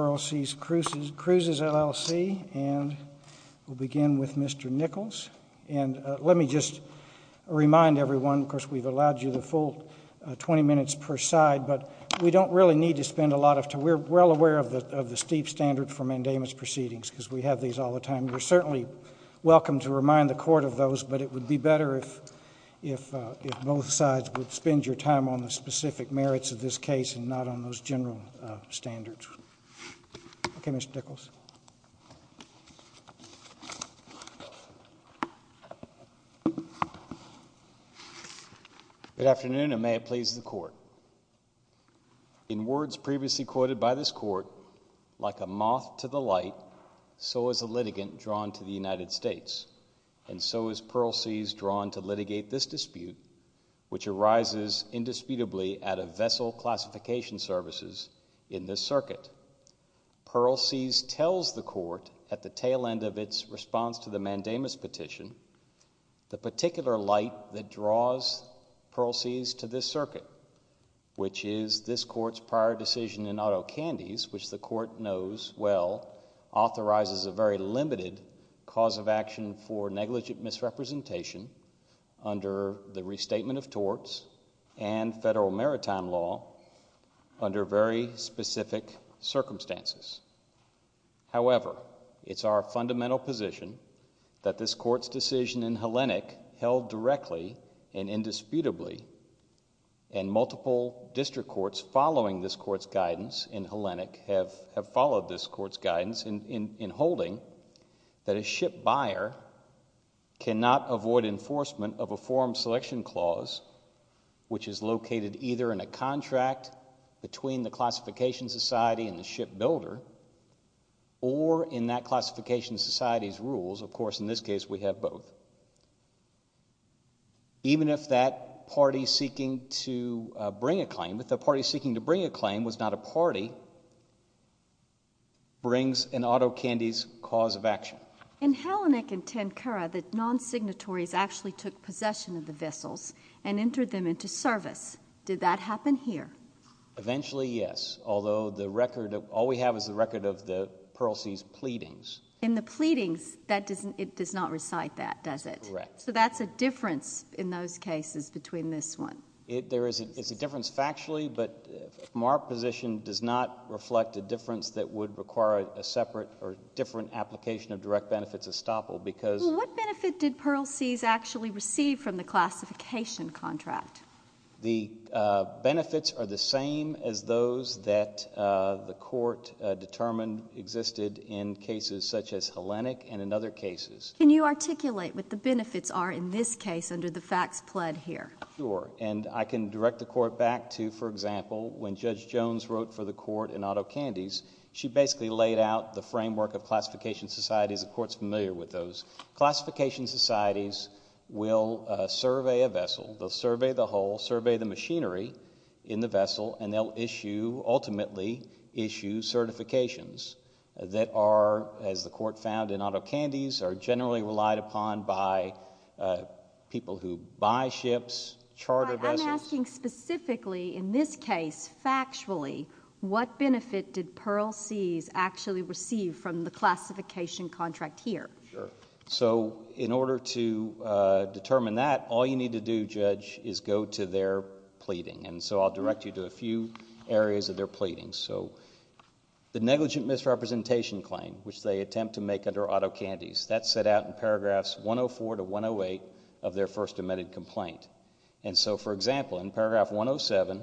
RLC's Cruises LLC, and we'll begin with Mr. Nichols. And let me just remind everyone, of course, we've allowed you the full 20 minutes per side, but we don't really need to spend a lot of time. We're well aware of the steep standard for mandamus proceedings, because we have these all the time. You're certainly welcome to remind the court of those, but it would be better if both sides would spend your time on the specific merits of this case and not on those general standards. Okay, Mr. Nichols. Good afternoon, and may it please the court. In words previously quoted by this court, like a moth to the light, so is a litigant drawn to the United States, and so is Pearl Sea's drawn to litigate this dispute, which arises indisputably at a vessel classification services in this circuit. Pearl Sea's tells the court at the tail end of its response to the mandamus petition, the particular light that draws Pearl Sea's to this circuit, which is this court's prior decision in Otto Candies, which the court knows well, authorizes a very limited cause of action for negligent misrepresentation under the restatement of torts and federal maritime law under very specific circumstances. However, it's our fundamental position that this court's decision in Hellenic held directly and indisputably, and multiple district courts following this court's guidance in Hellenic have followed this court's guidance in holding that a ship buyer cannot avoid enforcement of a form selection clause, which is located either in a contract between the classification society and the ship builder, or in that classification society's rules. Of course, in this case, we have both. Even if that party seeking to bring a claim, if the party seeking to bring a claim was not a party, it still brings in Otto Candies' cause of action. In Hellenic and Tancura, the non-signatories actually took possession of the vessels and entered them into service. Did that happen here? Eventually, yes. Although the record, all we have is the record of the Pearl Sea's pleadings. In the pleadings, it does not recite that, does it? Correct. So that's a difference in those cases between this one. There is a difference factually, but from our position, does not reflect a difference that would require a separate or different application of direct benefits estoppel, because What benefit did Pearl Sea's actually receive from the classification contract? The benefits are the same as those that the court determined existed in cases such as Hellenic and in other cases. Can you articulate what the benefits are in this case under the facts pled here? Sure. And I can direct the court back to, for example, when Judge Jones wrote for the court in Otto Candies, she basically laid out the framework of classification societies. The court's familiar with those. Classification societies will survey a vessel, they'll survey the hull, survey the machinery in the vessel, and they'll issue, ultimately issue certifications that are, as the court found in Otto Candies, are generally relied upon by people who buy ships, charter vessels. I'm asking specifically in this case, factually, what benefit did Pearl Sea's actually receive from the classification contract here? Sure. So in order to determine that, all you need to do, Judge, is go to their pleading. And so I'll direct you to a few areas of their pleading. So the negligent misrepresentation claim, which they attempt to make under Otto Candies, that's set out in paragraphs 104 to 108 of their first amended complaint. And so, for example, in paragraph 107,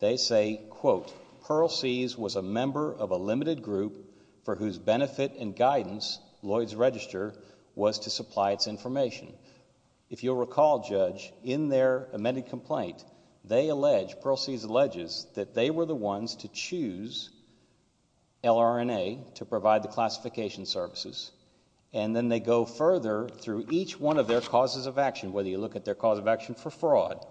they say, quote, Pearl Sea's was a member of a limited group for whose benefit and guidance Lloyd's Register was to supply its information. If you'll recall, Judge, in their amended complaint, they allege, Pearl Sea's alleges, that they were the ones to choose LRNA to provide the classification services. And then they go further through each one of their causes of action, whether you look at their cause of action for fraud.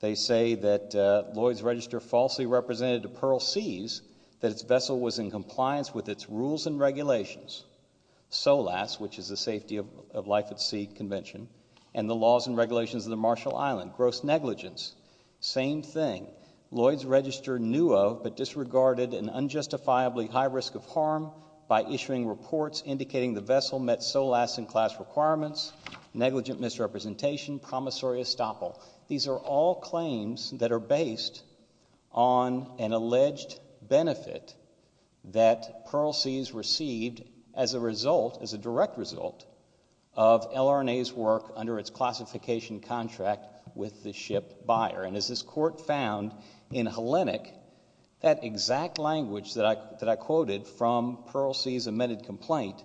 They say that Lloyd's Register falsely represented to Pearl Sea's that its vessel was in compliance with its rules and regulations, SOLAS, which is the Safety of Life at Sea Convention, and the laws and regulations of the Marshall Island, gross negligence. Same thing. Lloyd's Register knew of but disregarded an unjustifiably high risk of harm by issuing reports indicating the vessel met SOLAS and class requirements, negligent misrepresentation, promissory estoppel. These are all claims that are based on an alleged benefit that Pearl Sea's received as a result, as a direct result, of LRNA's work under its classification contract with the ship buyer. And as this court found in Hellenic, that exact language that I quoted from Pearl Sea's amended complaint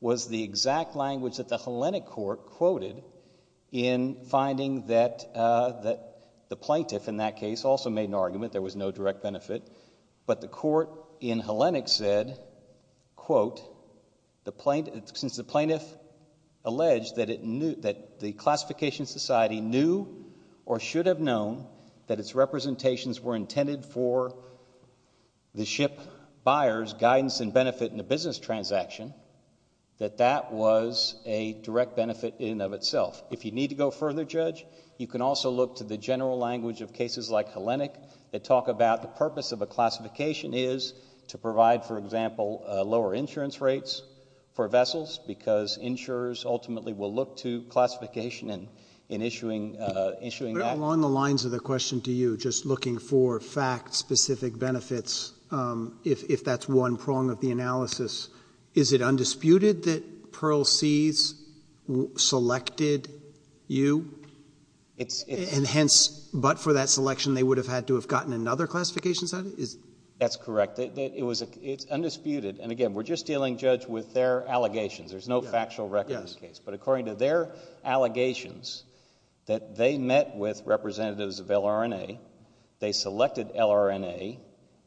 was the exact language that the Hellenic court quoted in finding that the plaintiff, in that case, also made an argument. There was no direct benefit. But the court in Hellenic said, quote, the plaintiff, since the plaintiff alleged that the classification society knew or should have known that its representations were intended for the ship buyer's guidance and benefit in the business transaction, that that was a direct benefit in and of itself. If you need to go further, Judge, you can also look to the general language of cases like Hellenic that talk about the purpose of a classification is to provide, for example, lower insurance rates for vessels because insurers ultimately will look to classification in issuing that. But along the lines of the question to you, just looking for fact-specific benefits, if that's one prong of the analysis, is it undisputed that Pearl Sea's selected you? And hence, but for that selection, they would have had to have gotten another classification society? That's correct. It's undisputed. And again, we're just dealing, Judge, with their allegations. There's no factual record in this case. But according to their allegations that they met with representatives of LRNA, they selected LRNA,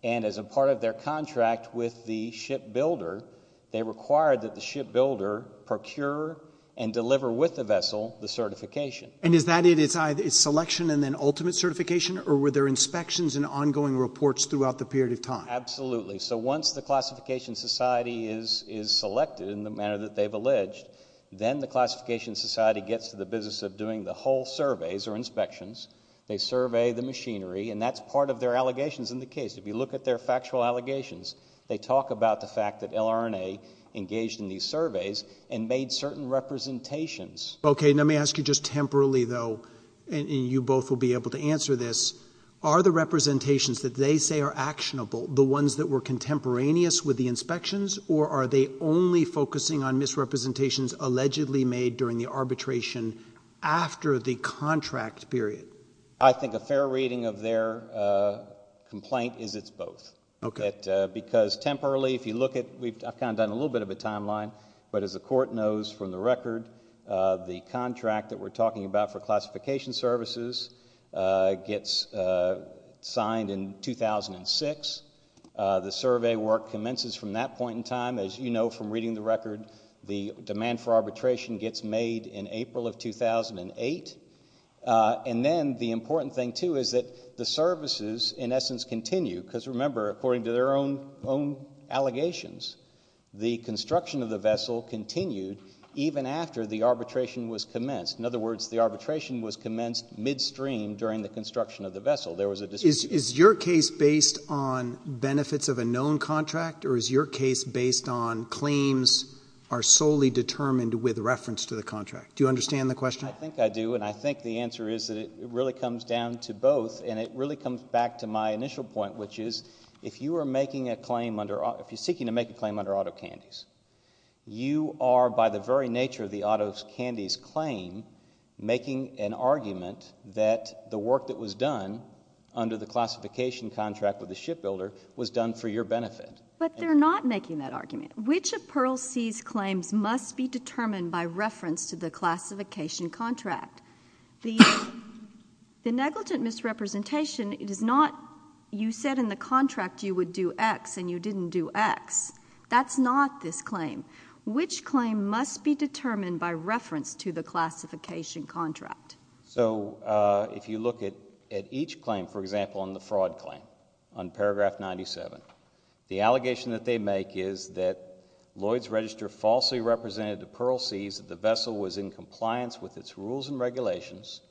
and as a part of their contract with the ship builder, they required that the ship builder procure and deliver with the vessel the certification. And is that it? It's selection and then ultimate certification? Or were there inspections and ongoing reports throughout the period of time? Absolutely. So once the classification society is selected in the manner that they've alleged, then the classification society gets to the business of doing the whole surveys or inspections. They survey the machinery, and that's part of their allegations in the case. If you look at their factual allegations, they talk about the fact that LRNA engaged in these surveys and made certain representations. Okay. Let me ask you just temporarily, though, and you both will be able to answer this, are the representations that they say are actionable, the ones that were contemporaneous with the inspections, or are they only focusing on misrepresentations allegedly made during the arbitration after the contract period? I think a fair reading of their complaint is it's both. Okay. Because temporarily, if you look at, I've kind of done a little bit of a timeline, but as the court knows from the record, the contract that we're talking about for classification services gets signed in 2006, the survey work commences from that point in time. As you know from reading the record, the demand for arbitration gets made in April of 2008. And then the important thing, too, is that the services, in essence, continue, because remember, according to their own allegations, the construction of the vessel continued even after the arbitration was commenced. In other words, the arbitration was commenced midstream during the construction of the vessel. Is your case based on benefits of a known contract, or is your case based on claims are solely determined with reference to the contract? Do you understand the question? I think I do, and I think the answer is that it really comes down to both, and it really comes back to my initial point, which is, if you are seeking to make a claim under Otto Candies, you are, by the very nature of the Otto Candies claim, making an argument that the work that was done under the classification contract with the shipbuilder was done for your benefit. But they're not making that argument. Which of Pearl Sea's claims must be determined by reference to the classification contract? The negligent misrepresentation, it is not you said in the contract you would do X and you didn't do X. That's not this claim. Which claim must be determined by reference to the classification contract? So if you look at each claim, for example, on the fraud claim on paragraph 97, the allegation that they make is that Lloyd's Register falsely represented to Pearl Sea's that the vessel was in compliance with its rules and regulations,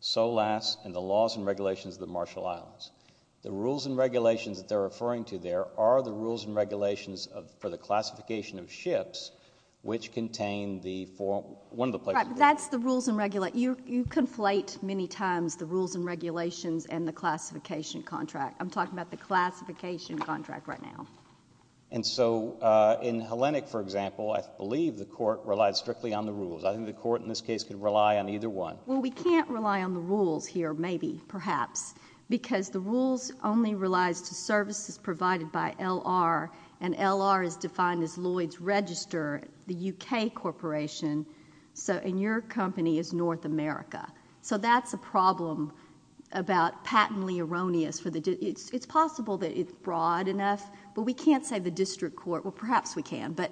SOLAS and the laws and regulations of the Marshall Islands. The rules and regulations that they're referring to there are the rules and regulations for the classification of ships, which contain the form, one of the places. That's the rules and regulate. You conflate many times the rules and regulations and the classification contract. I'm talking about the classification contract right now. And so in Hellenic, for example, I believe the court relied strictly on the rules. I think the court in this case could rely on either one. Well, we can't rely on the rules here. Maybe perhaps because the rules only relies to services provided by L.R. and L.R. is defined as Lloyd's Register, the U.K. corporation. So in your company is North America. So that's a problem about patently erroneous for the. It's possible that it's broad enough, but we can't say the district court. Well, perhaps we can, but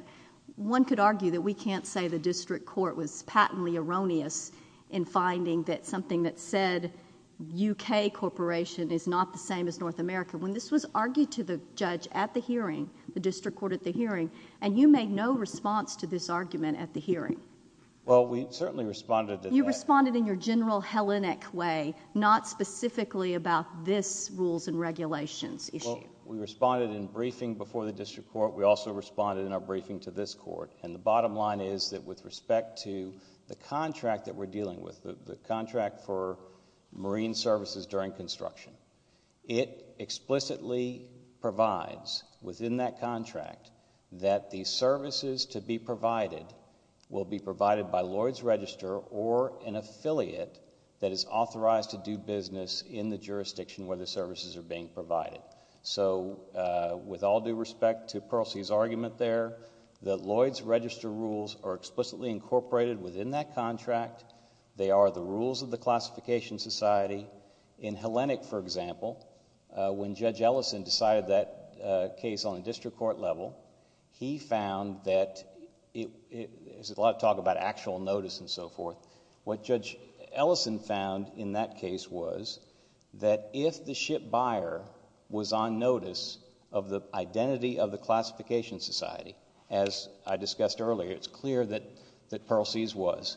one could argue that we can't say the district court was patently erroneous in finding that something that said U.K. corporation is not the same as North America. When this was argued to the judge at the hearing, the district court at the hearing, and you made no response to this argument at the hearing. Well, we certainly responded. You responded in your general Hellenic way, not specifically about this rules and regulations issue. We responded in briefing before the district court. We also responded in our briefing to this court. And the bottom line is that with respect to the contract that we're dealing with, the contract for marine services during construction, it explicitly provides within that contract that the services to be provided will be provided by Lloyd's Register or an affiliate that is authorized to do business in the jurisdiction where the services are being provided. So with all due respect to Percy's argument there, the Lloyd's Register rules are explicitly incorporated within that contract. They are the rules of the classification society in Hellenic, for example, when Judge Ellison decided that case on a district court level, he found that it is a lot of talk about actual notice and so forth. What Judge Ellison found in that case was that if the ship buyer was on notice of the identity of the classification society, as I discussed earlier, it's clear that that Percy's was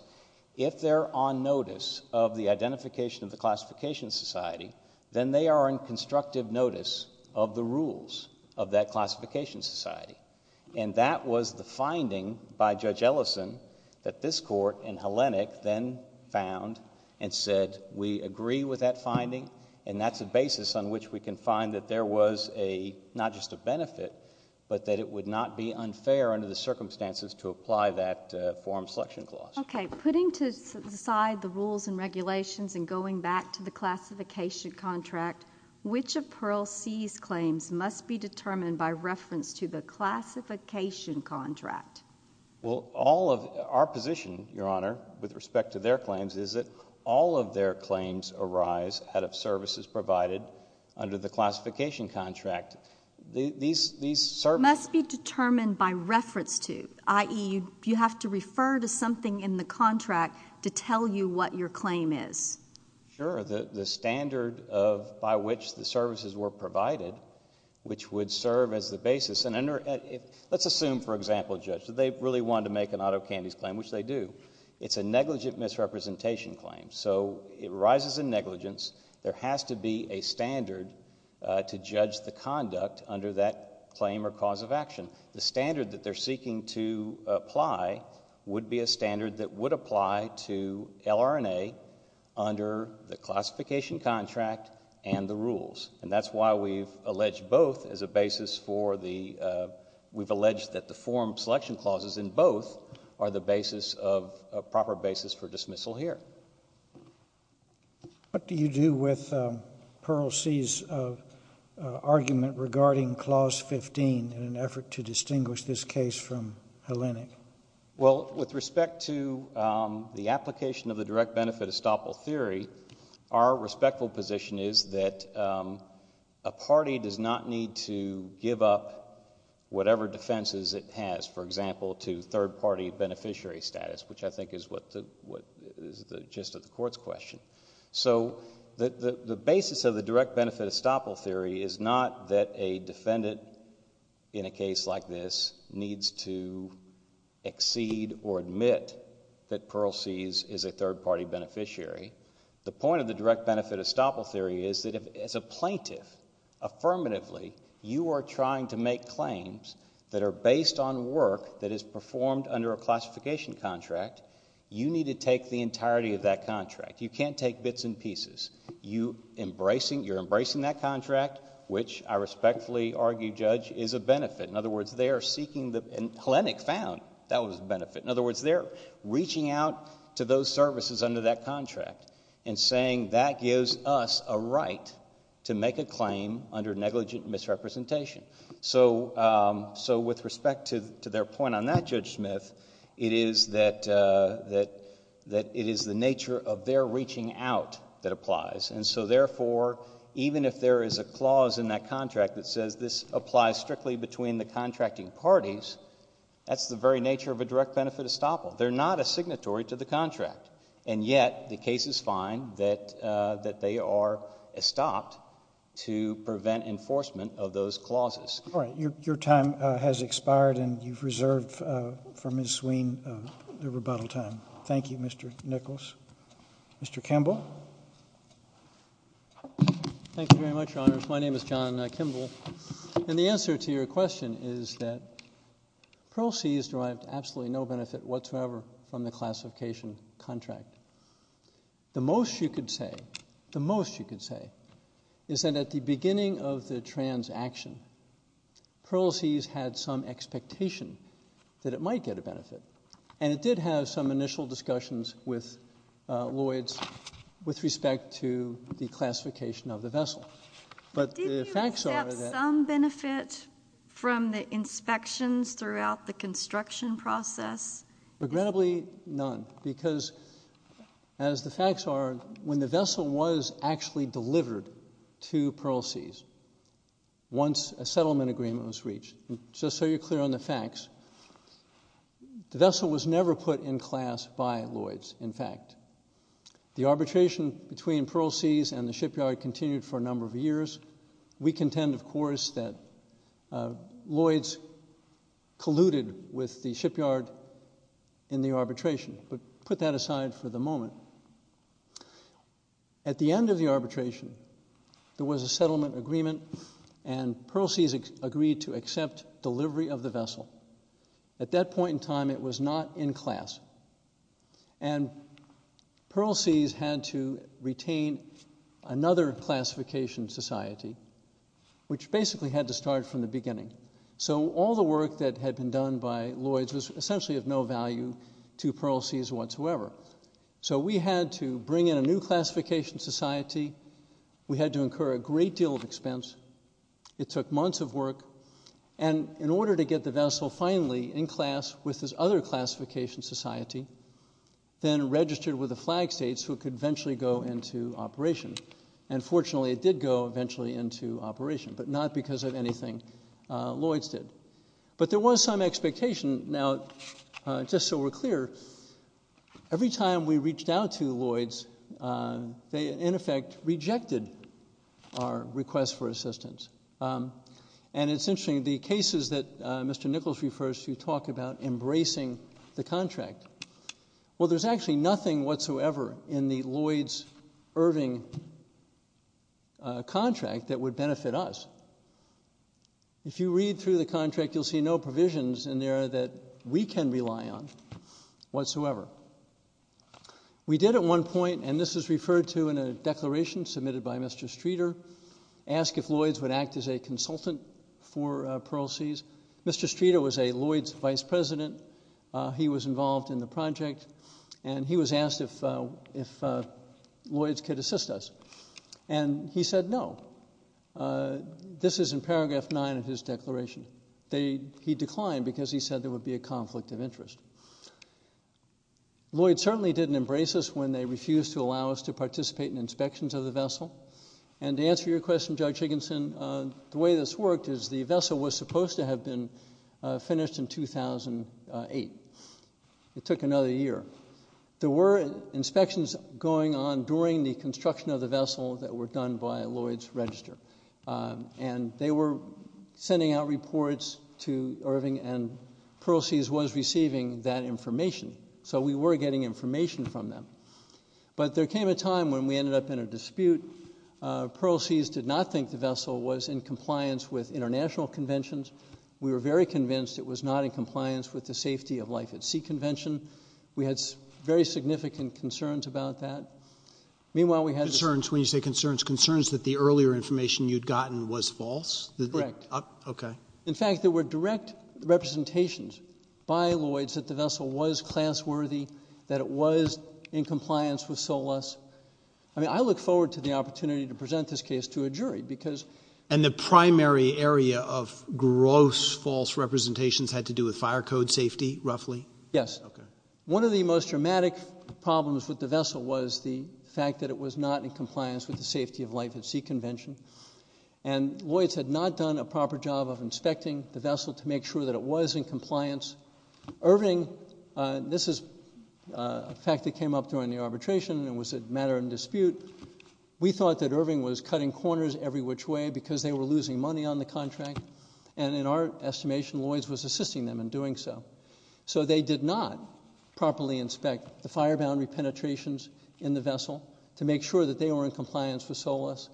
if they're on notice of the identification of the classification society, then they are in constructive notice of the rules of that classification society. And that was the finding by Judge Ellison that this court in Hellenic then found and said, we agree with that finding. And that's a basis on which we can find that there was a not just a benefit, but that it would not be unfair under the circumstances to apply that form selection clause. OK, putting to the side the rules and regulations and going back to the classification contract, which of Pearl C's claims must be determined by reference to the classification contract? Well, all of our position, Your Honor, with respect to their claims, is that all of their claims arise out of services provided under the classification contract. These these must be determined by reference to, i.e., you have to refer to something in the contract to tell you what your claim is. Sure. The standard of by which the services were provided, which would serve as the basis and under it, let's assume, for example, judge that they really wanted to make an auto candies claim, which they do. It's a negligent misrepresentation claim. So it rises in negligence. There has to be a standard to judge the conduct under that claim or cause of action. The standard that they're seeking to apply would be a standard that would apply to LRNA under the classification contract and the rules. And that's why we've alleged both as a basis for the we've alleged that the form selection clauses in both are the basis of a proper basis for dismissal here. What do you do with Pearl C's argument regarding Clause 15 in an effort to distinguish this case from Hellenic? Well, with respect to the application of the direct benefit estoppel theory, our respectful position is that a party does not need to give up whatever defenses it has, for example, to third party beneficiary status, which I think is what the what is the gist of the court's question. So the basis of the direct benefit estoppel theory is not that a defendant in a case like this needs to exceed or admit that Pearl C's is a third party beneficiary. The point of the direct benefit estoppel theory is that as a plaintiff, affirmatively, you are trying to make claims that are based on work that is performed under a classification contract. You need to take the entirety of that contract. You can't take bits and pieces. You embracing you're embracing that contract, which I respectfully argue, Judge, is a benefit. In other words, they are seeking the Hellenic found that was a benefit. In other words, they're reaching out to those services under that contract and saying that gives us a right to make a claim under negligent misrepresentation. So so with respect to to their point on that, Judge Smith, it is that that that it is the nature of their reaching out that applies. And so therefore, even if there is a clause in that contract that says this applies strictly between the contracting parties, that's the very nature of a direct benefit estoppel. They're not a signatory to the contract. And yet the case is fine that that they are stopped to prevent enforcement of those clauses. All right. Your time has expired and you've reserved for Miss Swain the rebuttal time. Thank you, Mr. Nichols. Mr. Kimball. Thank you very much. My name is John Kimball. And the answer to your question is that proceeds derived absolutely no benefit whatsoever from the classification contract. The most you could say, the most you could say is that at the beginning of the transaction, proceeds had some expectation that it might get a benefit. And it did have some initial discussions with Lloyd's with respect to the classification of the vessel. But the facts are that some benefit from the inspections throughout the construction process. Regrettably, none, because as the facts are, when the vessel was actually delivered to Pearl Seas. Once a settlement agreement was reached, just so you're clear on the facts, the vessel was never put in class by Lloyd's, in fact. The arbitration between Pearl Seas and the shipyard continued for a number of years. We contend, of course, that Lloyd's colluded with the shipyard in the arbitration. But put that aside for the moment. At the end of the arbitration, there was a settlement agreement and Pearl Seas agreed to accept delivery of the vessel. At that point in time, it was not in class. And Pearl Seas had to retain another classification society, which basically had to start from the beginning. So all the work that had been done by Lloyd's was essentially of no value to Pearl Seas whatsoever. So we had to bring in a new classification society. We had to incur a great deal of expense. It took months of work. And in order to get the vessel finally in class with this other classification society, then registered with the flag states who could eventually go into operation. And fortunately, it did go eventually into operation, but not because of anything Lloyd's did. But there was some expectation. Now, just so we're clear, every time we reached out to Lloyd's, they, in effect, rejected our request for assistance. And it's interesting, the cases that Mr. Nichols refers to talk about embracing the contract. Well, there's actually nothing whatsoever in the Lloyd's Irving contract that would benefit us. If you read through the contract, you'll see no provisions in there that we can rely on whatsoever. We did at one point, and this is referred to in a declaration submitted by Mr. Streeter, ask if Lloyd's would act as a consultant for Pearl Seas. Mr. Streeter was a Lloyd's vice president. He was involved in the project and he was asked if if Lloyd's could assist us. And he said, no, this is in paragraph nine of his declaration. They he declined because he said there would be a conflict of interest. Lloyd's certainly didn't embrace us And to answer your question, Judge Higginson, the way this worked is the vessel was supposed to have been finished in 2008. It took another year. There were inspections going on during the construction of the vessel that were done by Lloyd's Register, and they were sending out reports to Irving and Pearl Seas was receiving that information. So we were getting information from them. But there came a time when we ended up in a dispute. Pearl Seas did not think the vessel was in compliance with international conventions. We were very convinced it was not in compliance with the safety of life at sea convention. We had very significant concerns about that. Meanwhile, we had concerns when you say concerns, concerns that the earlier information you'd gotten was false. Correct. OK. In fact, there were direct representations by Lloyd's that the vessel was class worthy, that it was in compliance with SOLAS. I mean, I look forward to the opportunity to present this case to a jury because and the primary area of gross false representations had to do with fire code safety, roughly. Yes. One of the most dramatic problems with the vessel was the fact that it was not in compliance with the safety of life at sea convention. And Lloyd's had not done a proper job of inspecting the vessel to make sure that it was in compliance. Irving, this is a fact that came up during the arbitration. It was a matter of dispute. We thought that Irving was cutting corners every which way because they were losing money on the contract. And in our estimation, Lloyd's was assisting them in doing so. So they did not properly inspect the fire boundary penetrations in the vessel to make sure that they were in compliance with SOLAS.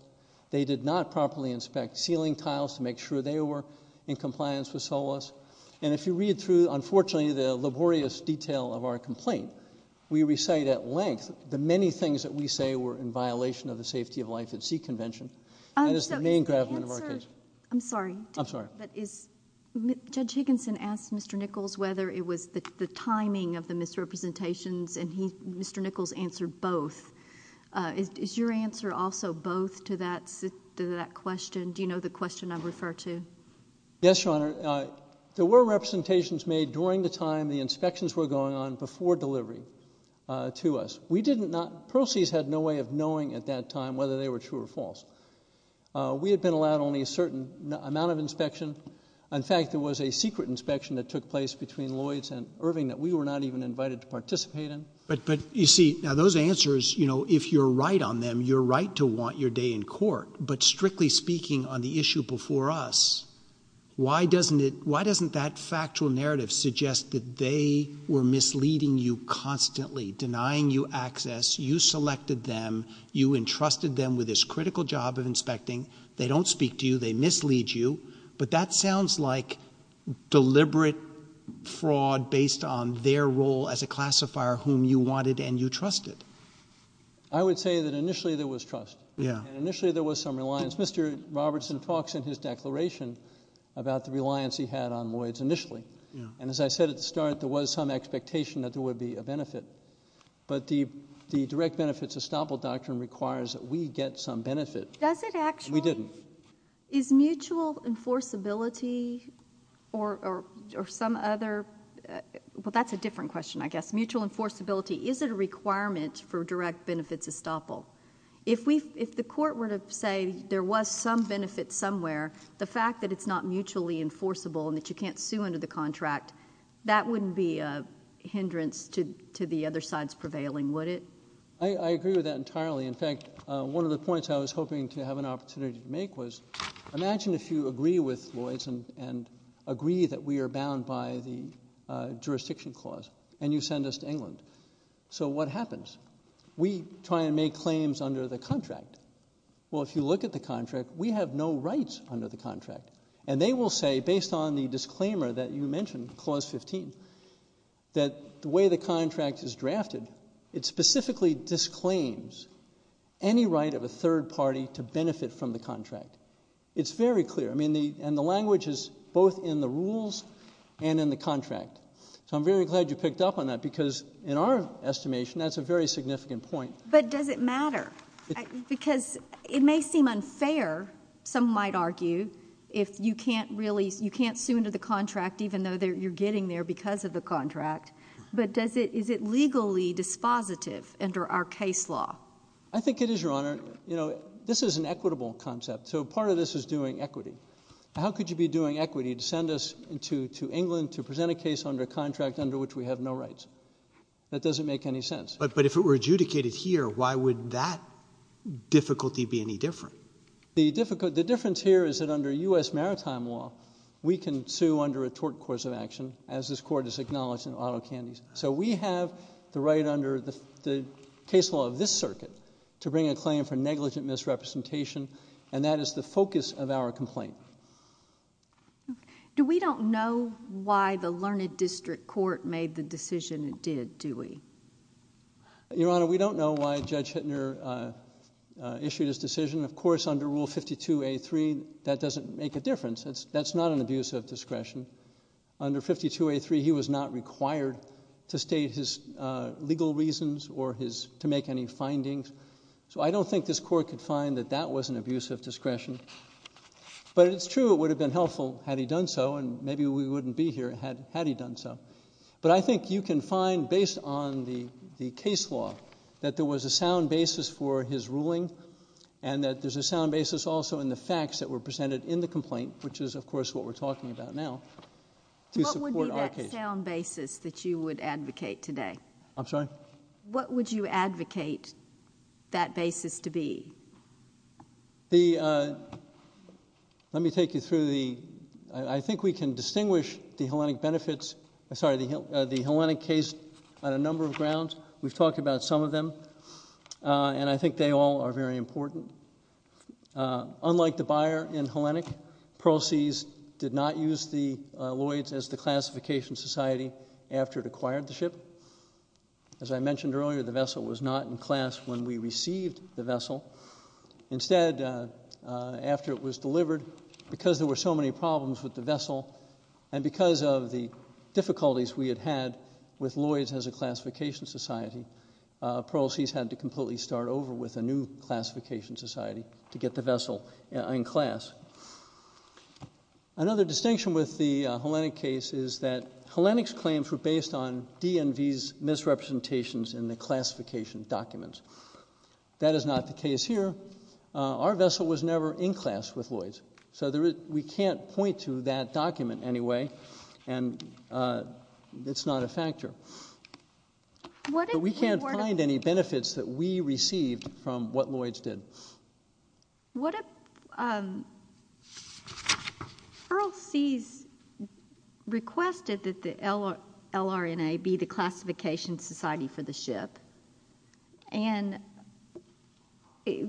They did not properly inspect ceiling tiles to make sure they were in compliance with SOLAS. And if you read through, unfortunately, the laborious detail of our complaint, we recite at length the many things that we say were in violation of the safety of life at sea convention. And it's the main gravamen of our case. I'm sorry. I'm sorry. But is Judge Higginson asked Mr. Nichols whether it was the timing of the misrepresentations and Mr. Nichols answered both. Is your answer also both to that question? Do you know the question I refer to? Yes, Your Honor. There were representations made during the time the inspections were going on before delivery to us. We didn't not. Proceeds had no way of knowing at that time whether they were true or false. We had been allowed only a certain amount of inspection. In fact, there was a secret inspection that took place between Lloyd's and Irving that we were not even invited to participate in. But but you see now those answers, you know, if you're right on them, you're right to want your day in court. But strictly speaking on the issue before us, why doesn't it why doesn't that factual narrative suggest that they were misleading you constantly denying you access? You selected them. You entrusted them with this critical job of inspecting. They don't speak to you. They mislead you. But that sounds like deliberate fraud based on their role as a classifier whom you wanted and you trusted. I would say that initially there was trust. Yeah. And initially there was some reliance. Mr. Robertson talks in his declaration about the reliance he had on Lloyd's initially. And as I said at the start, there was some expectation that there would be a benefit. But the the direct benefits estoppel doctrine requires that we get some benefit. Does it actually? We didn't. Is mutual enforceability or or or some other? Well, that's a different question, I guess. Mutual enforceability. Is it a requirement for direct benefits estoppel? If we if the court were to say there was some benefit somewhere, the fact that it's not mutually enforceable and that you can't sue under the contract, that wouldn't be a hindrance to to the other sides prevailing, would it? I agree with that entirely. In fact, one of the points I was hoping to have an opportunity to make was imagine if you agree with Lloyd's and and agree that we are bound by the jurisdiction clause and you send us to England. So what happens? We try and make claims under the contract. Well, if you look at the contract, we have no rights under the contract. And they will say, based on the disclaimer that you mentioned, clause 15, that the way the contract is drafted, it specifically disclaims any right of a third party to benefit from the contract. It's very clear. I mean, the and the language is both in the rules and in the contract. So I'm very glad you picked up on that, because in our estimation, that's a very significant point. But does it matter? Because it may seem unfair. Some might argue if you can't really you can't sue into the contract, even though you're getting there because of the contract. But does it is it legally dispositive under our case law? I think it is, Your Honor. You know, this is an equitable concept. So part of this is doing equity. How could you be doing equity to send us into to England, to present a case under a contract under which we have no rights? That doesn't make any sense. But but if it were adjudicated here, why would that difficulty be any different? The difficult the difference here is that under U.S. maritime law, we can sue under a tort course of action as this court is acknowledging auto candies. So we have the right under the case law of this circuit to bring a claim for negligent misrepresentation. And that is the focus of our complaint. Do we don't know why the Learned District Court made the decision it did, do we? Your Honor, we don't know why Judge Hittner issued his decision, of course, under Rule 52A3. That doesn't make a difference. That's not an abuse of discretion under 52A3. He was not required to state his legal reasons or his to make any findings. So I don't think this court could find that that was an abuse of discretion. But it's true, it would have been helpful had he done so. And maybe we wouldn't be here had had he done so. But I think you can find, based on the the case law, that there was a sound basis for his ruling and that there's a sound basis also in the facts that were presented in the complaint, which is, of course, what we're talking about now. To support our case. What would be that sound basis that you would advocate today? I'm sorry? What would you advocate that basis to be? The let me take you through the I think we can distinguish the Hellenic benefits, sorry, the the Hellenic case on a number of grounds. We've talked about some of them, and I think they all are very important. Unlike the buyer in Hellenic, Pearl Seas did not use the Lloyds as the classification society after it acquired the ship. As I mentioned earlier, the vessel was not in class when we received the vessel. Instead, after it was delivered, because there were so many problems with the vessel and because of the difficulties we had had with Lloyds as a classification society, Pearl Seas had to completely start over with a new classification society to get the vessel in class. Another distinction with the Hellenic case is that Hellenic's claims were based on DNV's misrepresentations in the classification documents. That is not the case here. Our vessel was never in class with Lloyds. So we can't point to that document anyway. And it's not a factor. But we can't find any benefits that we received from what Lloyds did. What if Pearl Seas requested that the LRNA be the classification society for the ship? And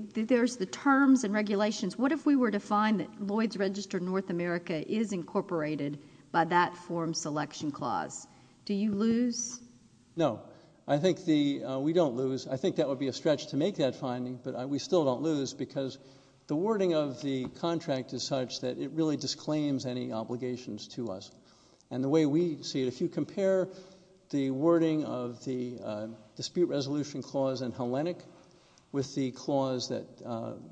there's the terms and regulations. What if we were to find that Lloyds registered North America is incorporated by that form selection clause? Do you lose? No, I think the we don't lose. I think that would be a stretch to make that finding. But we still don't lose because the wording of the contract is such that it really disclaims any obligations to us. And the way we see it, if you compare the wording of the dispute resolution clause in Hellenic with the clause that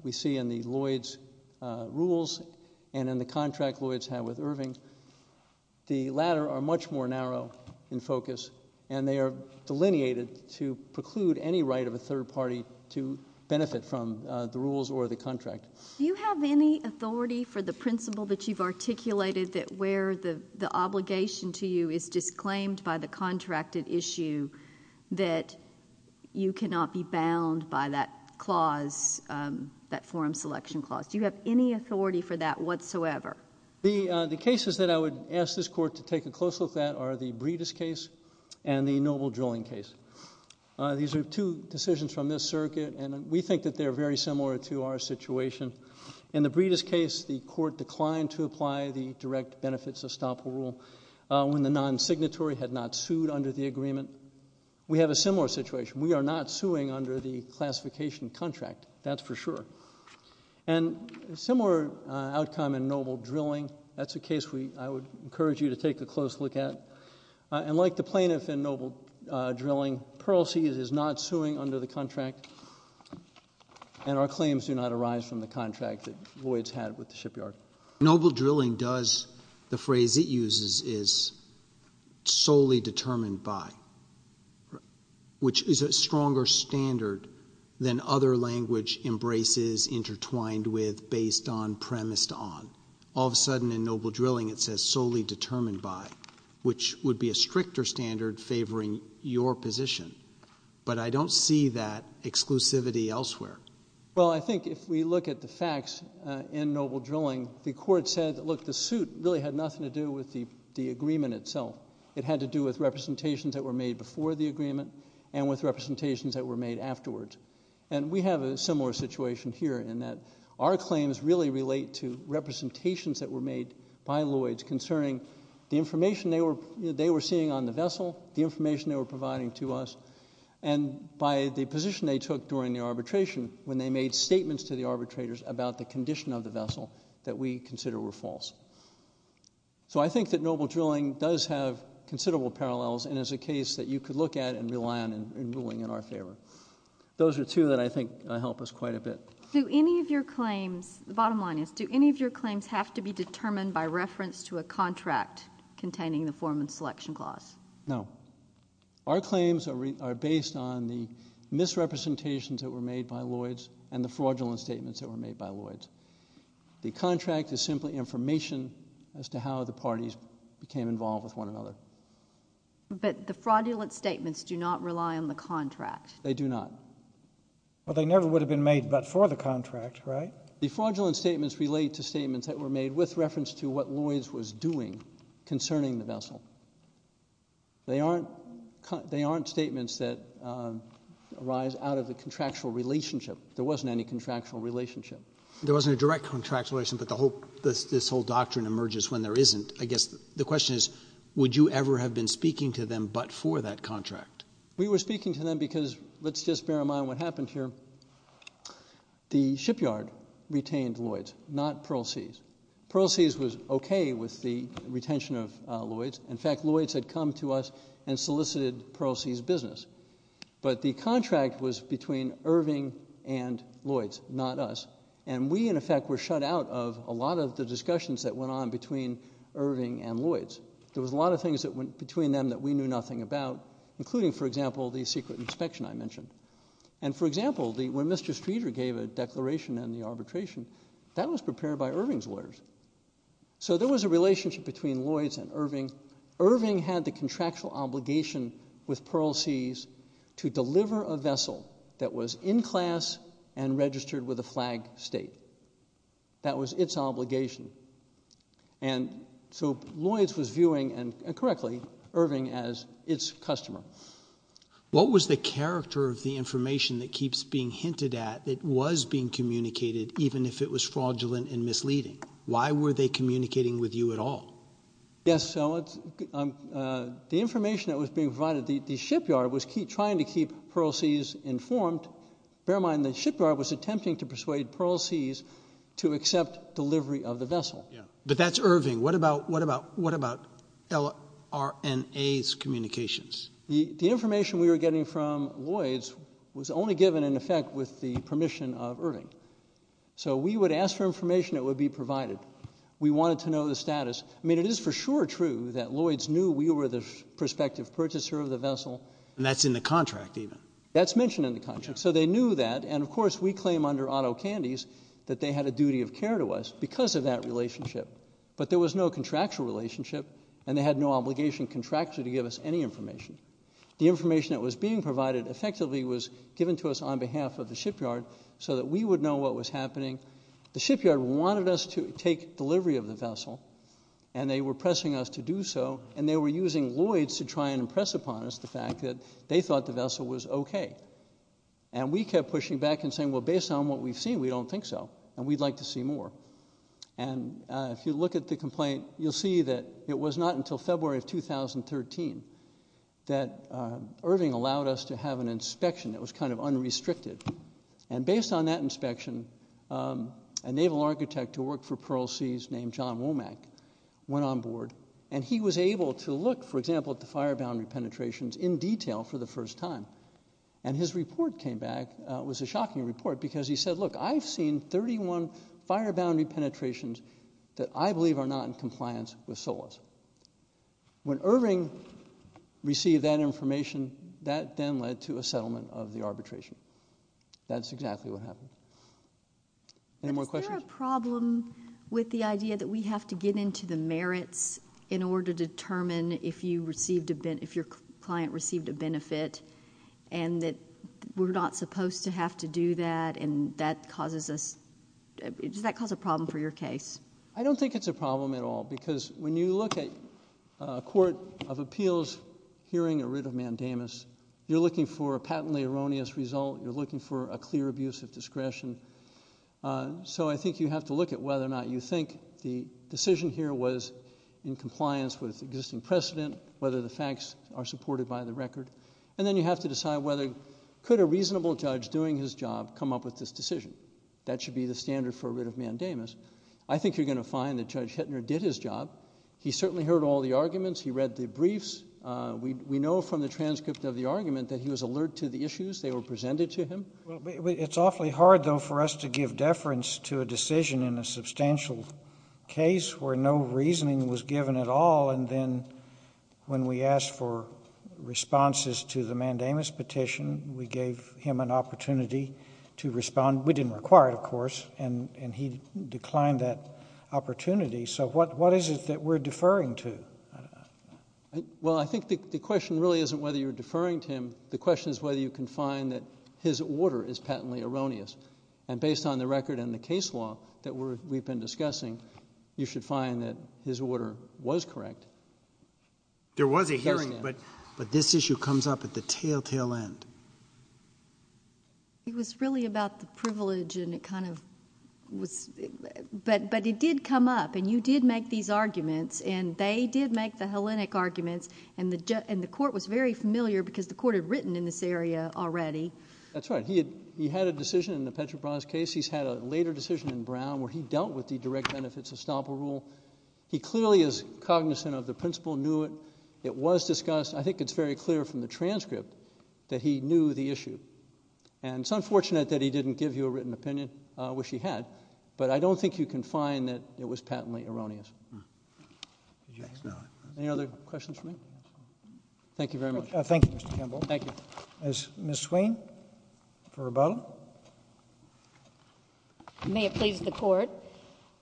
we see in the Lloyds rules and in the contract Lloyds had with Irving, the latter are much more narrow in focus and they are delineated to preclude any right of a third party to benefit from the rules or the contract. Do you have any authority for the principle that you've articulated that where the the obligation to you is disclaimed by the contracted issue that you cannot be bound by that clause that form selection clause? Do you have any authority for that whatsoever? The the cases that I would ask this court to take a close look at are the Breedis case and the Noble drilling case. These are two decisions from this circuit, and we think that they're very similar to our situation in the Breedis case. The court declined to apply the direct benefits of Staple rule when the non-signatory had not sued under the agreement. We have a similar situation. We are not suing under the classification contract. That's for sure. And a similar outcome in Noble drilling. That's a case we I would encourage you to take a close look at. And like the plaintiff in Noble drilling, Pearl Sea is not suing under the contract. And our claims do not arise from the contract that Lloyds had with the shipyard. Noble drilling does the phrase it uses is solely determined by, which is a stronger standard than other language embraces intertwined with based on, premised on. All of a sudden in Noble drilling it says solely determined by, which would be a stricter standard favoring your position. But I don't see that exclusivity elsewhere. Well, I think if we look at the facts in Noble drilling, the court said, look, the suit really had nothing to do with the agreement itself. It had to do with representations that were made before the agreement and with representations that were made afterwards. And we have a similar situation here in that our claims really relate to representations that were made by Lloyds concerning the information they were seeing on the vessel, the information they were providing to us, and by the position they took during the arbitration when they made statements to the arbitrators about the condition of the vessel that we consider were false. So I think that Noble drilling does have considerable parallels and is a case that you could look at and rely on in ruling in our favor. Those are two that I think help us quite a bit. Do any of your claims, the bottom line is, do any of your claims have to be determined by reference to a contract containing the Foreman's Selection Clause? No. Our claims are based on the misrepresentations that were made by Lloyds and the fraudulent statements that were made by Lloyds. The contract is simply information as to how the parties became involved with one another. But the fraudulent statements do not rely on the contract. They do not. Well, they never would have been made but for the contract, right? The fraudulent statements relate to statements that were made with reference to what Lloyds was doing concerning the vessel. They aren't statements that arise out of the contractual relationship. There wasn't any contractual relationship. There wasn't a direct contractual relationship, but this whole doctrine emerges when there isn't. I guess the question is, would you ever have been speaking to them but for that contract? We were speaking to them because, let's just bear in mind what happened here. The shipyard retained Lloyds, not Pearl Sea's. Pearl Sea's was okay with the retention of Lloyds. In fact, Lloyds had come to us and solicited Pearl Sea's business. But the contract was between Irving and Lloyds, not us. And we, in effect, were shut out of a lot of the discussions that went on between Irving and Lloyds. There was a lot of things that went between them that we knew nothing about, including, for example, the secret inspection I mentioned. And for example, when Mr. Streeter gave a declaration in the arbitration, that was prepared by Irving's lawyers. So there was a relationship between Lloyds and Irving. Irving had the contractual obligation with Pearl Sea's to deliver a vessel that was in class and registered with a flag state. That was its obligation. And so Lloyds was viewing, and correctly, Irving as its customer. What was the character of the information that keeps being hinted at that was being communicated, even if it was fraudulent and misleading? Why were they communicating with you at all? Yes, so the information that was being provided, the shipyard was trying to keep Pearl Sea's informed. Bear in mind, the shipyard was attempting to persuade Pearl Sea's to accept delivery of the vessel. Yeah. But that's Irving. What about LRNA's communications? The information we were getting from Lloyds was only given, in effect, with the permission of Irving. So we would ask for information that would be provided. We wanted to know the status. I mean, it is for sure true that Lloyds knew we were the prospective purchaser of the vessel. And that's in the contract, even. That's mentioned in the contract. So they knew that. And of course, we claim under Otto Candies that they had a duty of care to us because of that relationship. But there was no contractual relationship, and they had no obligation contractually to give us any information. The information that was being provided effectively was given to us on behalf of the shipyard so that we would know what was happening. The shipyard wanted us to take delivery of the vessel, and they were pressing us to do so. And they were using Lloyds to try and impress upon us the fact that they thought the vessel was okay. And we kept pushing back and saying, well, based on what we've seen, we don't think so, and we'd like to see more. And if you look at the complaint, you'll see that it was not until February of 2013 that Irving allowed us to have an inspection that was kind of unrestricted. And based on that inspection, a naval architect who worked for Pearl Sea's named John Womack went on board, and he was able to look, for example, at the fire boundary penetrations in detail for the first time. And his report came back. It was a shocking report, because he said, look, I've seen 31 fire boundary penetrations that I believe are not in compliance with SOLAS. When Irving received that information, that then led to a settlement of the arbitration. That's exactly what happened. Any more questions? But is there a problem with the idea that we have to get into the merits in order to determine if your client received a benefit, and that we're not supposed to have to do that, and does that cause a problem for your case? I don't think it's a problem at all, because when you look at a court of appeals hearing a writ of mandamus, you're looking for a patently erroneous result. You're looking for a clear abuse of discretion. So I think you have to look at whether or not you think the decision here was in compliance with existing precedent, whether the facts are supported by the record. And then you have to decide whether could a reasonable judge doing his job come up with this decision. That should be the standard for a writ of mandamus. I think you're going to find that Judge Hittner did his job. He certainly heard all the arguments. He read the briefs. We know from the transcript of the argument that he was alert to the issues. They were presented to him. Well, it's awfully hard, though, for us to give deference to a decision in a substantial case where no reasoning was given at all. And then when we asked for responses to the mandamus petition, we gave him an opportunity to respond. We didn't require it, of course, and he declined that opportunity. So what is it that we're deferring to? Well, I think the question really isn't whether you're deferring to him. The question is whether you can find that his order is patently erroneous. And based on the record and the case law that we've been discussing, you should find that his order was correct. There was a hearing, but this issue comes up at the telltale end. It was really about the privilege and it kind of was, but it did come up, and you did make these arguments, and they did make the Hellenic arguments, and the court was very familiar because the court had written in this area already. That's right. He had a decision in the Petrobras case. He's had a later decision in Brown where he dealt with the direct benefits estoppel rule. He clearly is cognizant of the principle, knew it. It was discussed. I think it's very clear from the transcript that he knew the issue. And it's unfortunate that he didn't give you a written opinion, which he had, but I don't think you can find that it was patently erroneous. Any other questions for me? Thank you very much. Thank you, Mr. Kimball. Thank you. Is Ms. Swain for rebuttal? May it please the court.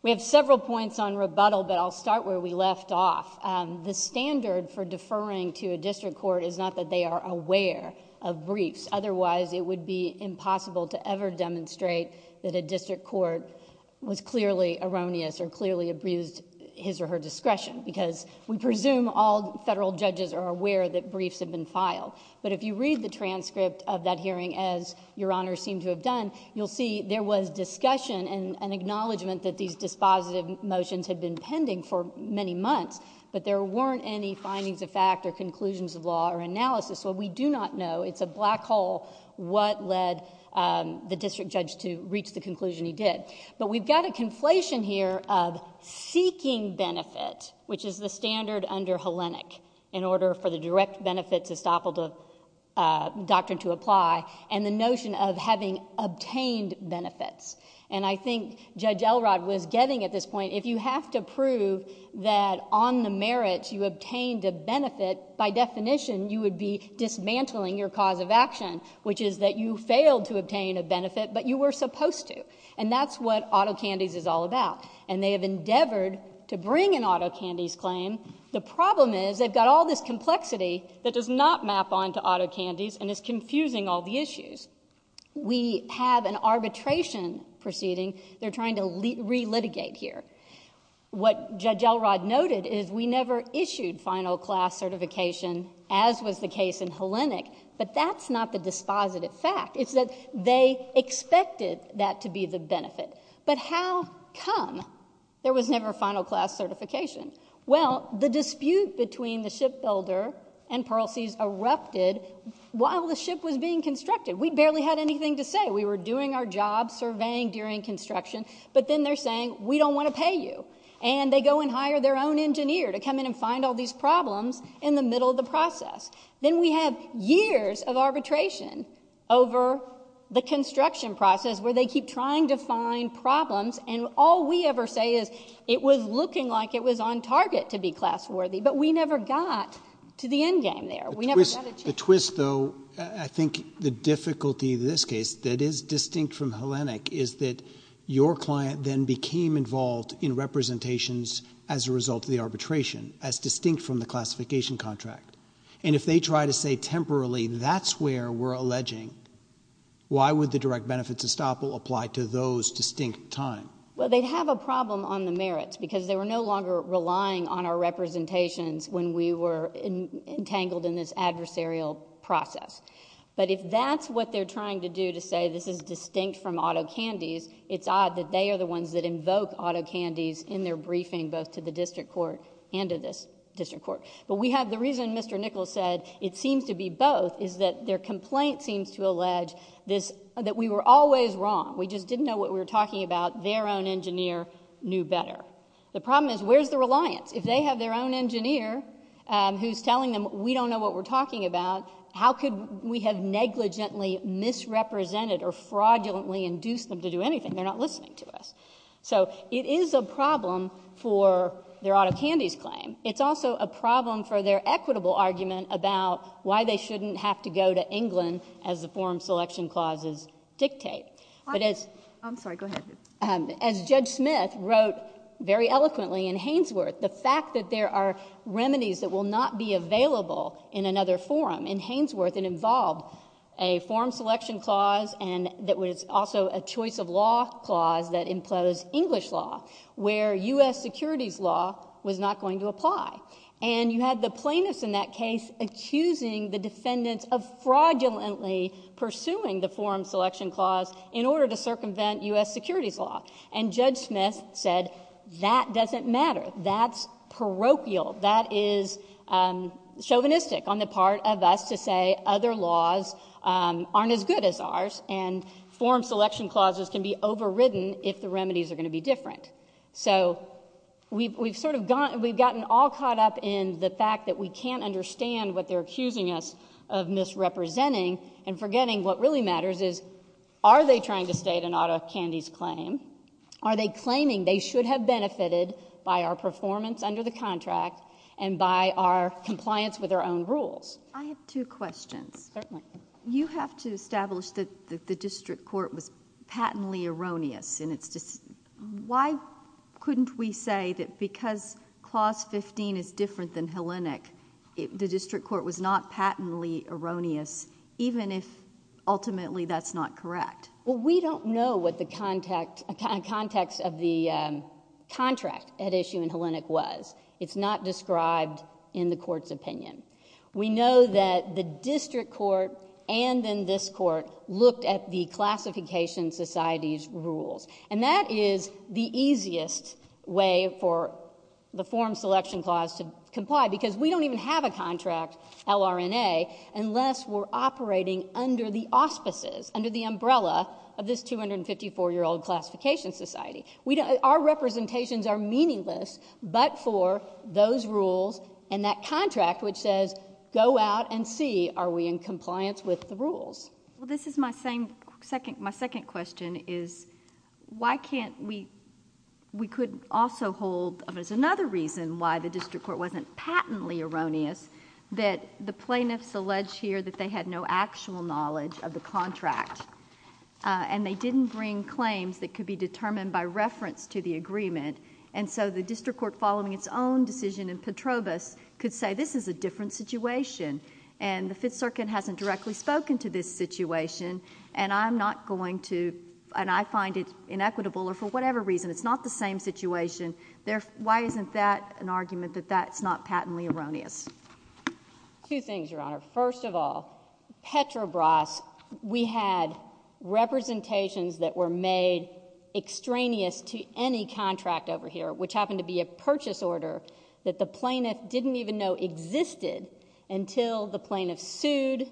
We have several points on rebuttal, but I'll start where we left off. The standard for deferring to a district court is not that they are aware of briefs. Otherwise, it would be impossible to ever demonstrate that a district court was clearly erroneous or clearly abused his or her discretion because we presume all federal judges are aware that briefs have been filed. But if you read the transcript of that hearing, as Your Honor seemed to have done, you'll see there was discussion and an acknowledgment that these dispositive motions had been pending for many months, but there weren't any findings of fact or conclusions of law or analysis. So we do not know. It's a black hole what led the district judge to reach the conclusion he did. But we've got a conflation here of seeking benefit, which is the standard under Hellenic in order for the direct benefits estoppel doctrine to apply and the notion of having obtained benefits, and I think Judge Elrod was getting at this point, if you have to prove that on the merits you obtained a benefit, by definition you would be dismantling your cause of action, which is that you failed to obtain a benefit, but you were supposed to, and that's what autocandies is all about. And they have endeavored to bring an autocandies claim. The problem is they've got all this complexity that does not map on to autocandies and is confusing all the issues. We have an arbitration proceeding. They're trying to re-litigate here. What Judge Elrod noted is we never issued final class certification, as was the case in Hellenic, but that's not the dispositive fact. It's that they expected that to be the benefit. But how come there was never final class certification? Well, the dispute between the shipbuilder and Pearl Sea's erupted while the ship was being constructed. We barely had anything to say. We were doing our job, surveying during construction, but then they're saying we don't want to pay you, and they go and hire their own engineer to come in and find all these problems in the middle of the process. Then we have years of arbitration over the construction process where they keep trying to find problems, and all we ever say is it was looking like it was on target to be class worthy, but we never got to the end game there. We never got a chance. The twist, though, I think the difficulty in this case that is distinct from Hellenic is that your client then became involved in representations as a result of the arbitration, as distinct from the classification contract, and if they try to say temporarily that's where we're alleging, why would the direct benefits estoppel apply to those distinct time? Well, they'd have a problem on the merits because they were no longer relying on our representations when we were entangled in this adversarial process. But if that's what they're trying to do to say this is distinct from auto candies, it's odd that they are the ones that invoke auto candies in their briefing both to the district court and to this district court. But we have the reason Mr. Nichols said it seems to be both is that their complaint seems to allege that we were always wrong. We just didn't know what we were talking about. Their own engineer knew better. The problem is where's the reliance? If they have their own engineer who's telling them we don't know what we're talking about, how could we have negligently misrepresented or fraudulently induced them to do anything? They're not listening to us. So it is a problem for their auto candies claim. It's also a problem for their equitable argument about why they shouldn't have to go to England as the forum selection clauses dictate. But as Judge Smith wrote very eloquently in Hainsworth, the fact that there are remedies that will not be available in another forum, in Hainsworth it involved a forum selection clause and that was also a choice of law clause that implodes English law where U.S. securities law was not going to apply. And you had the plaintiffs in that case accusing the defendants of fraudulently pursuing the forum selection clause in order to circumvent U.S. securities law. And Judge Smith said that doesn't matter. That's parochial. That is chauvinistic on the part of us to say other laws aren't as good as ours and forum selection clauses can be overridden if the remedies are going to be different. So we've sort of gotten all caught up in the fact that we can't understand what they're accusing us of misrepresenting and forgetting what really matters is are they trying to state an auto candies claim? Are they claiming they should have benefited by our performance under the contract and by our compliance with our own rules? I have two questions. Certainly. You have to establish that the district court was patently erroneous and it's just why couldn't we say that because clause 15 is different than Hellenic the district court was not patently erroneous even if ultimately that's not correct? Well, we don't know what the context of the contract at issue in Hellenic was. It's not described in the court's opinion. We know that the district court and then this court looked at the classification society's rules. And that is the easiest way for the forum selection clause to comply because we don't even have a contract, LRNA, unless we're operating under the auspices, under the umbrella of this 254-year-old classification society. We don't, our representations are meaningless but for those rules and that contract which says go out and see are we in compliance with the rules. Well, this is my second question is why can't we, we could also hold, there's another reason why the district court wasn't patently erroneous that the plaintiffs allege here that they had no actual knowledge of the contract and they didn't bring claims that could be determined by reference to the agreement. And so the district court following its own decision in Petrobus could say this is a different situation. And the Fifth Circuit hasn't directly spoken to this situation and I'm not going to, and I find it inequitable or for whatever reason, it's not the same situation. There, why isn't that an argument that that's not patently erroneous? Two things, Your Honor. First of all, Petrobus, we had representations that were made extraneous to any contract over here which happened to be a purchase order that the plaintiff didn't even know existed until the plaintiff sued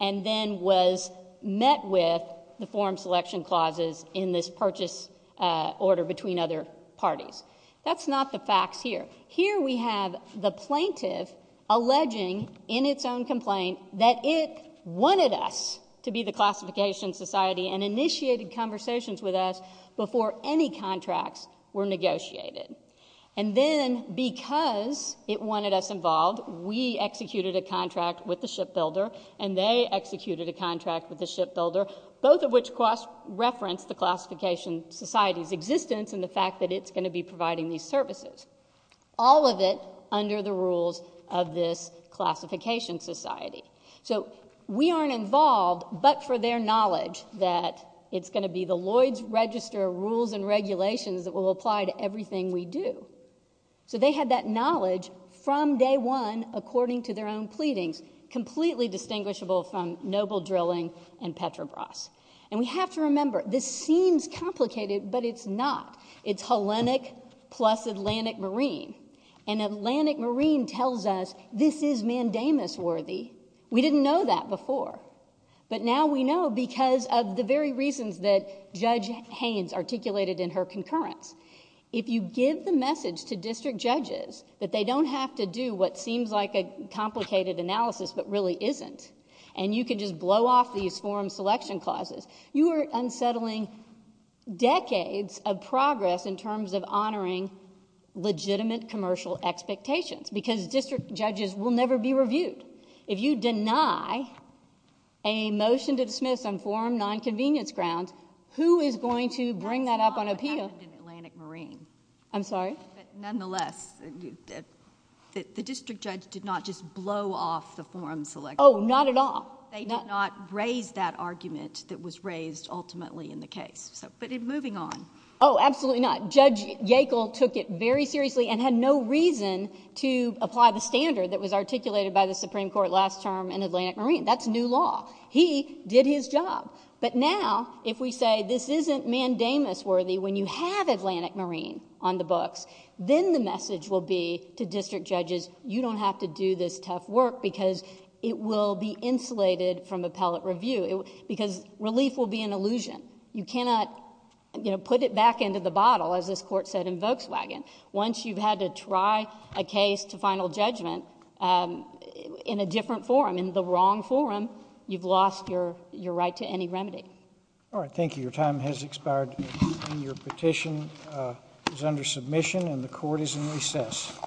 and then was met with the form selection clauses in this purchase order between other parties. That's not the facts here. Here we have the plaintiff alleging in its own complaint that it wanted us to be the classification society and initiated conversations with us before any contracts were negotiated. And then because it wanted us involved, we executed a contract with the shipbuilder and they executed a contract with the shipbuilder, both of which referenced the classification society's existence and the fact that it's going to be providing these services. All of it under the rules of this classification society. So we aren't involved but for their knowledge that it's going to be the Lloyd's Register rules and regulations that will apply to everything we do. So they had that knowledge from day one according to their own pleadings, completely distinguishable from noble drilling and Petrobus. And we have to remember, this seems complicated but it's not. It's Hellenic plus Atlantic Marine. And Atlantic Marine tells us, this is mandamus worthy. We didn't know that before but now we know because of the very reasons that Judge Haynes articulated in her concurrence. If you give the message to district judges that they don't have to do what seems like a complicated analysis but really isn't and you can just blow off these form selection clauses, you are unsettling decades of progress in terms of honoring legitimate commercial expectations because district judges will never be reviewed. If you deny a motion to dismiss on forum nonconvenience grounds, who is going to bring that up on appeal? I'm sorry? But nonetheless, the district judge did not just blow off the forum selection. Oh, not at all. They did not raise that argument that was raised ultimately in the case. So, but moving on. Oh, absolutely not. Judge Yackel took it very seriously and had no reason to apply the standard that was articulated by the Supreme Court last term in Atlantic Marine. That's new law. He did his job. But now, if we say this isn't mandamus worthy when you have Atlantic Marine on the books, then the message will be to district judges, you don't have to do this tough work because it will be insulated from appellate review because relief will be an illusion. You cannot, you know, put it back into the bottle as this court said in Volkswagen. Once you've had to try a case to final judgment in a different forum, in the wrong forum, you've lost your right to any remedy. All right. Thank you. Your time has expired and your petition is under submission and the court is in recess.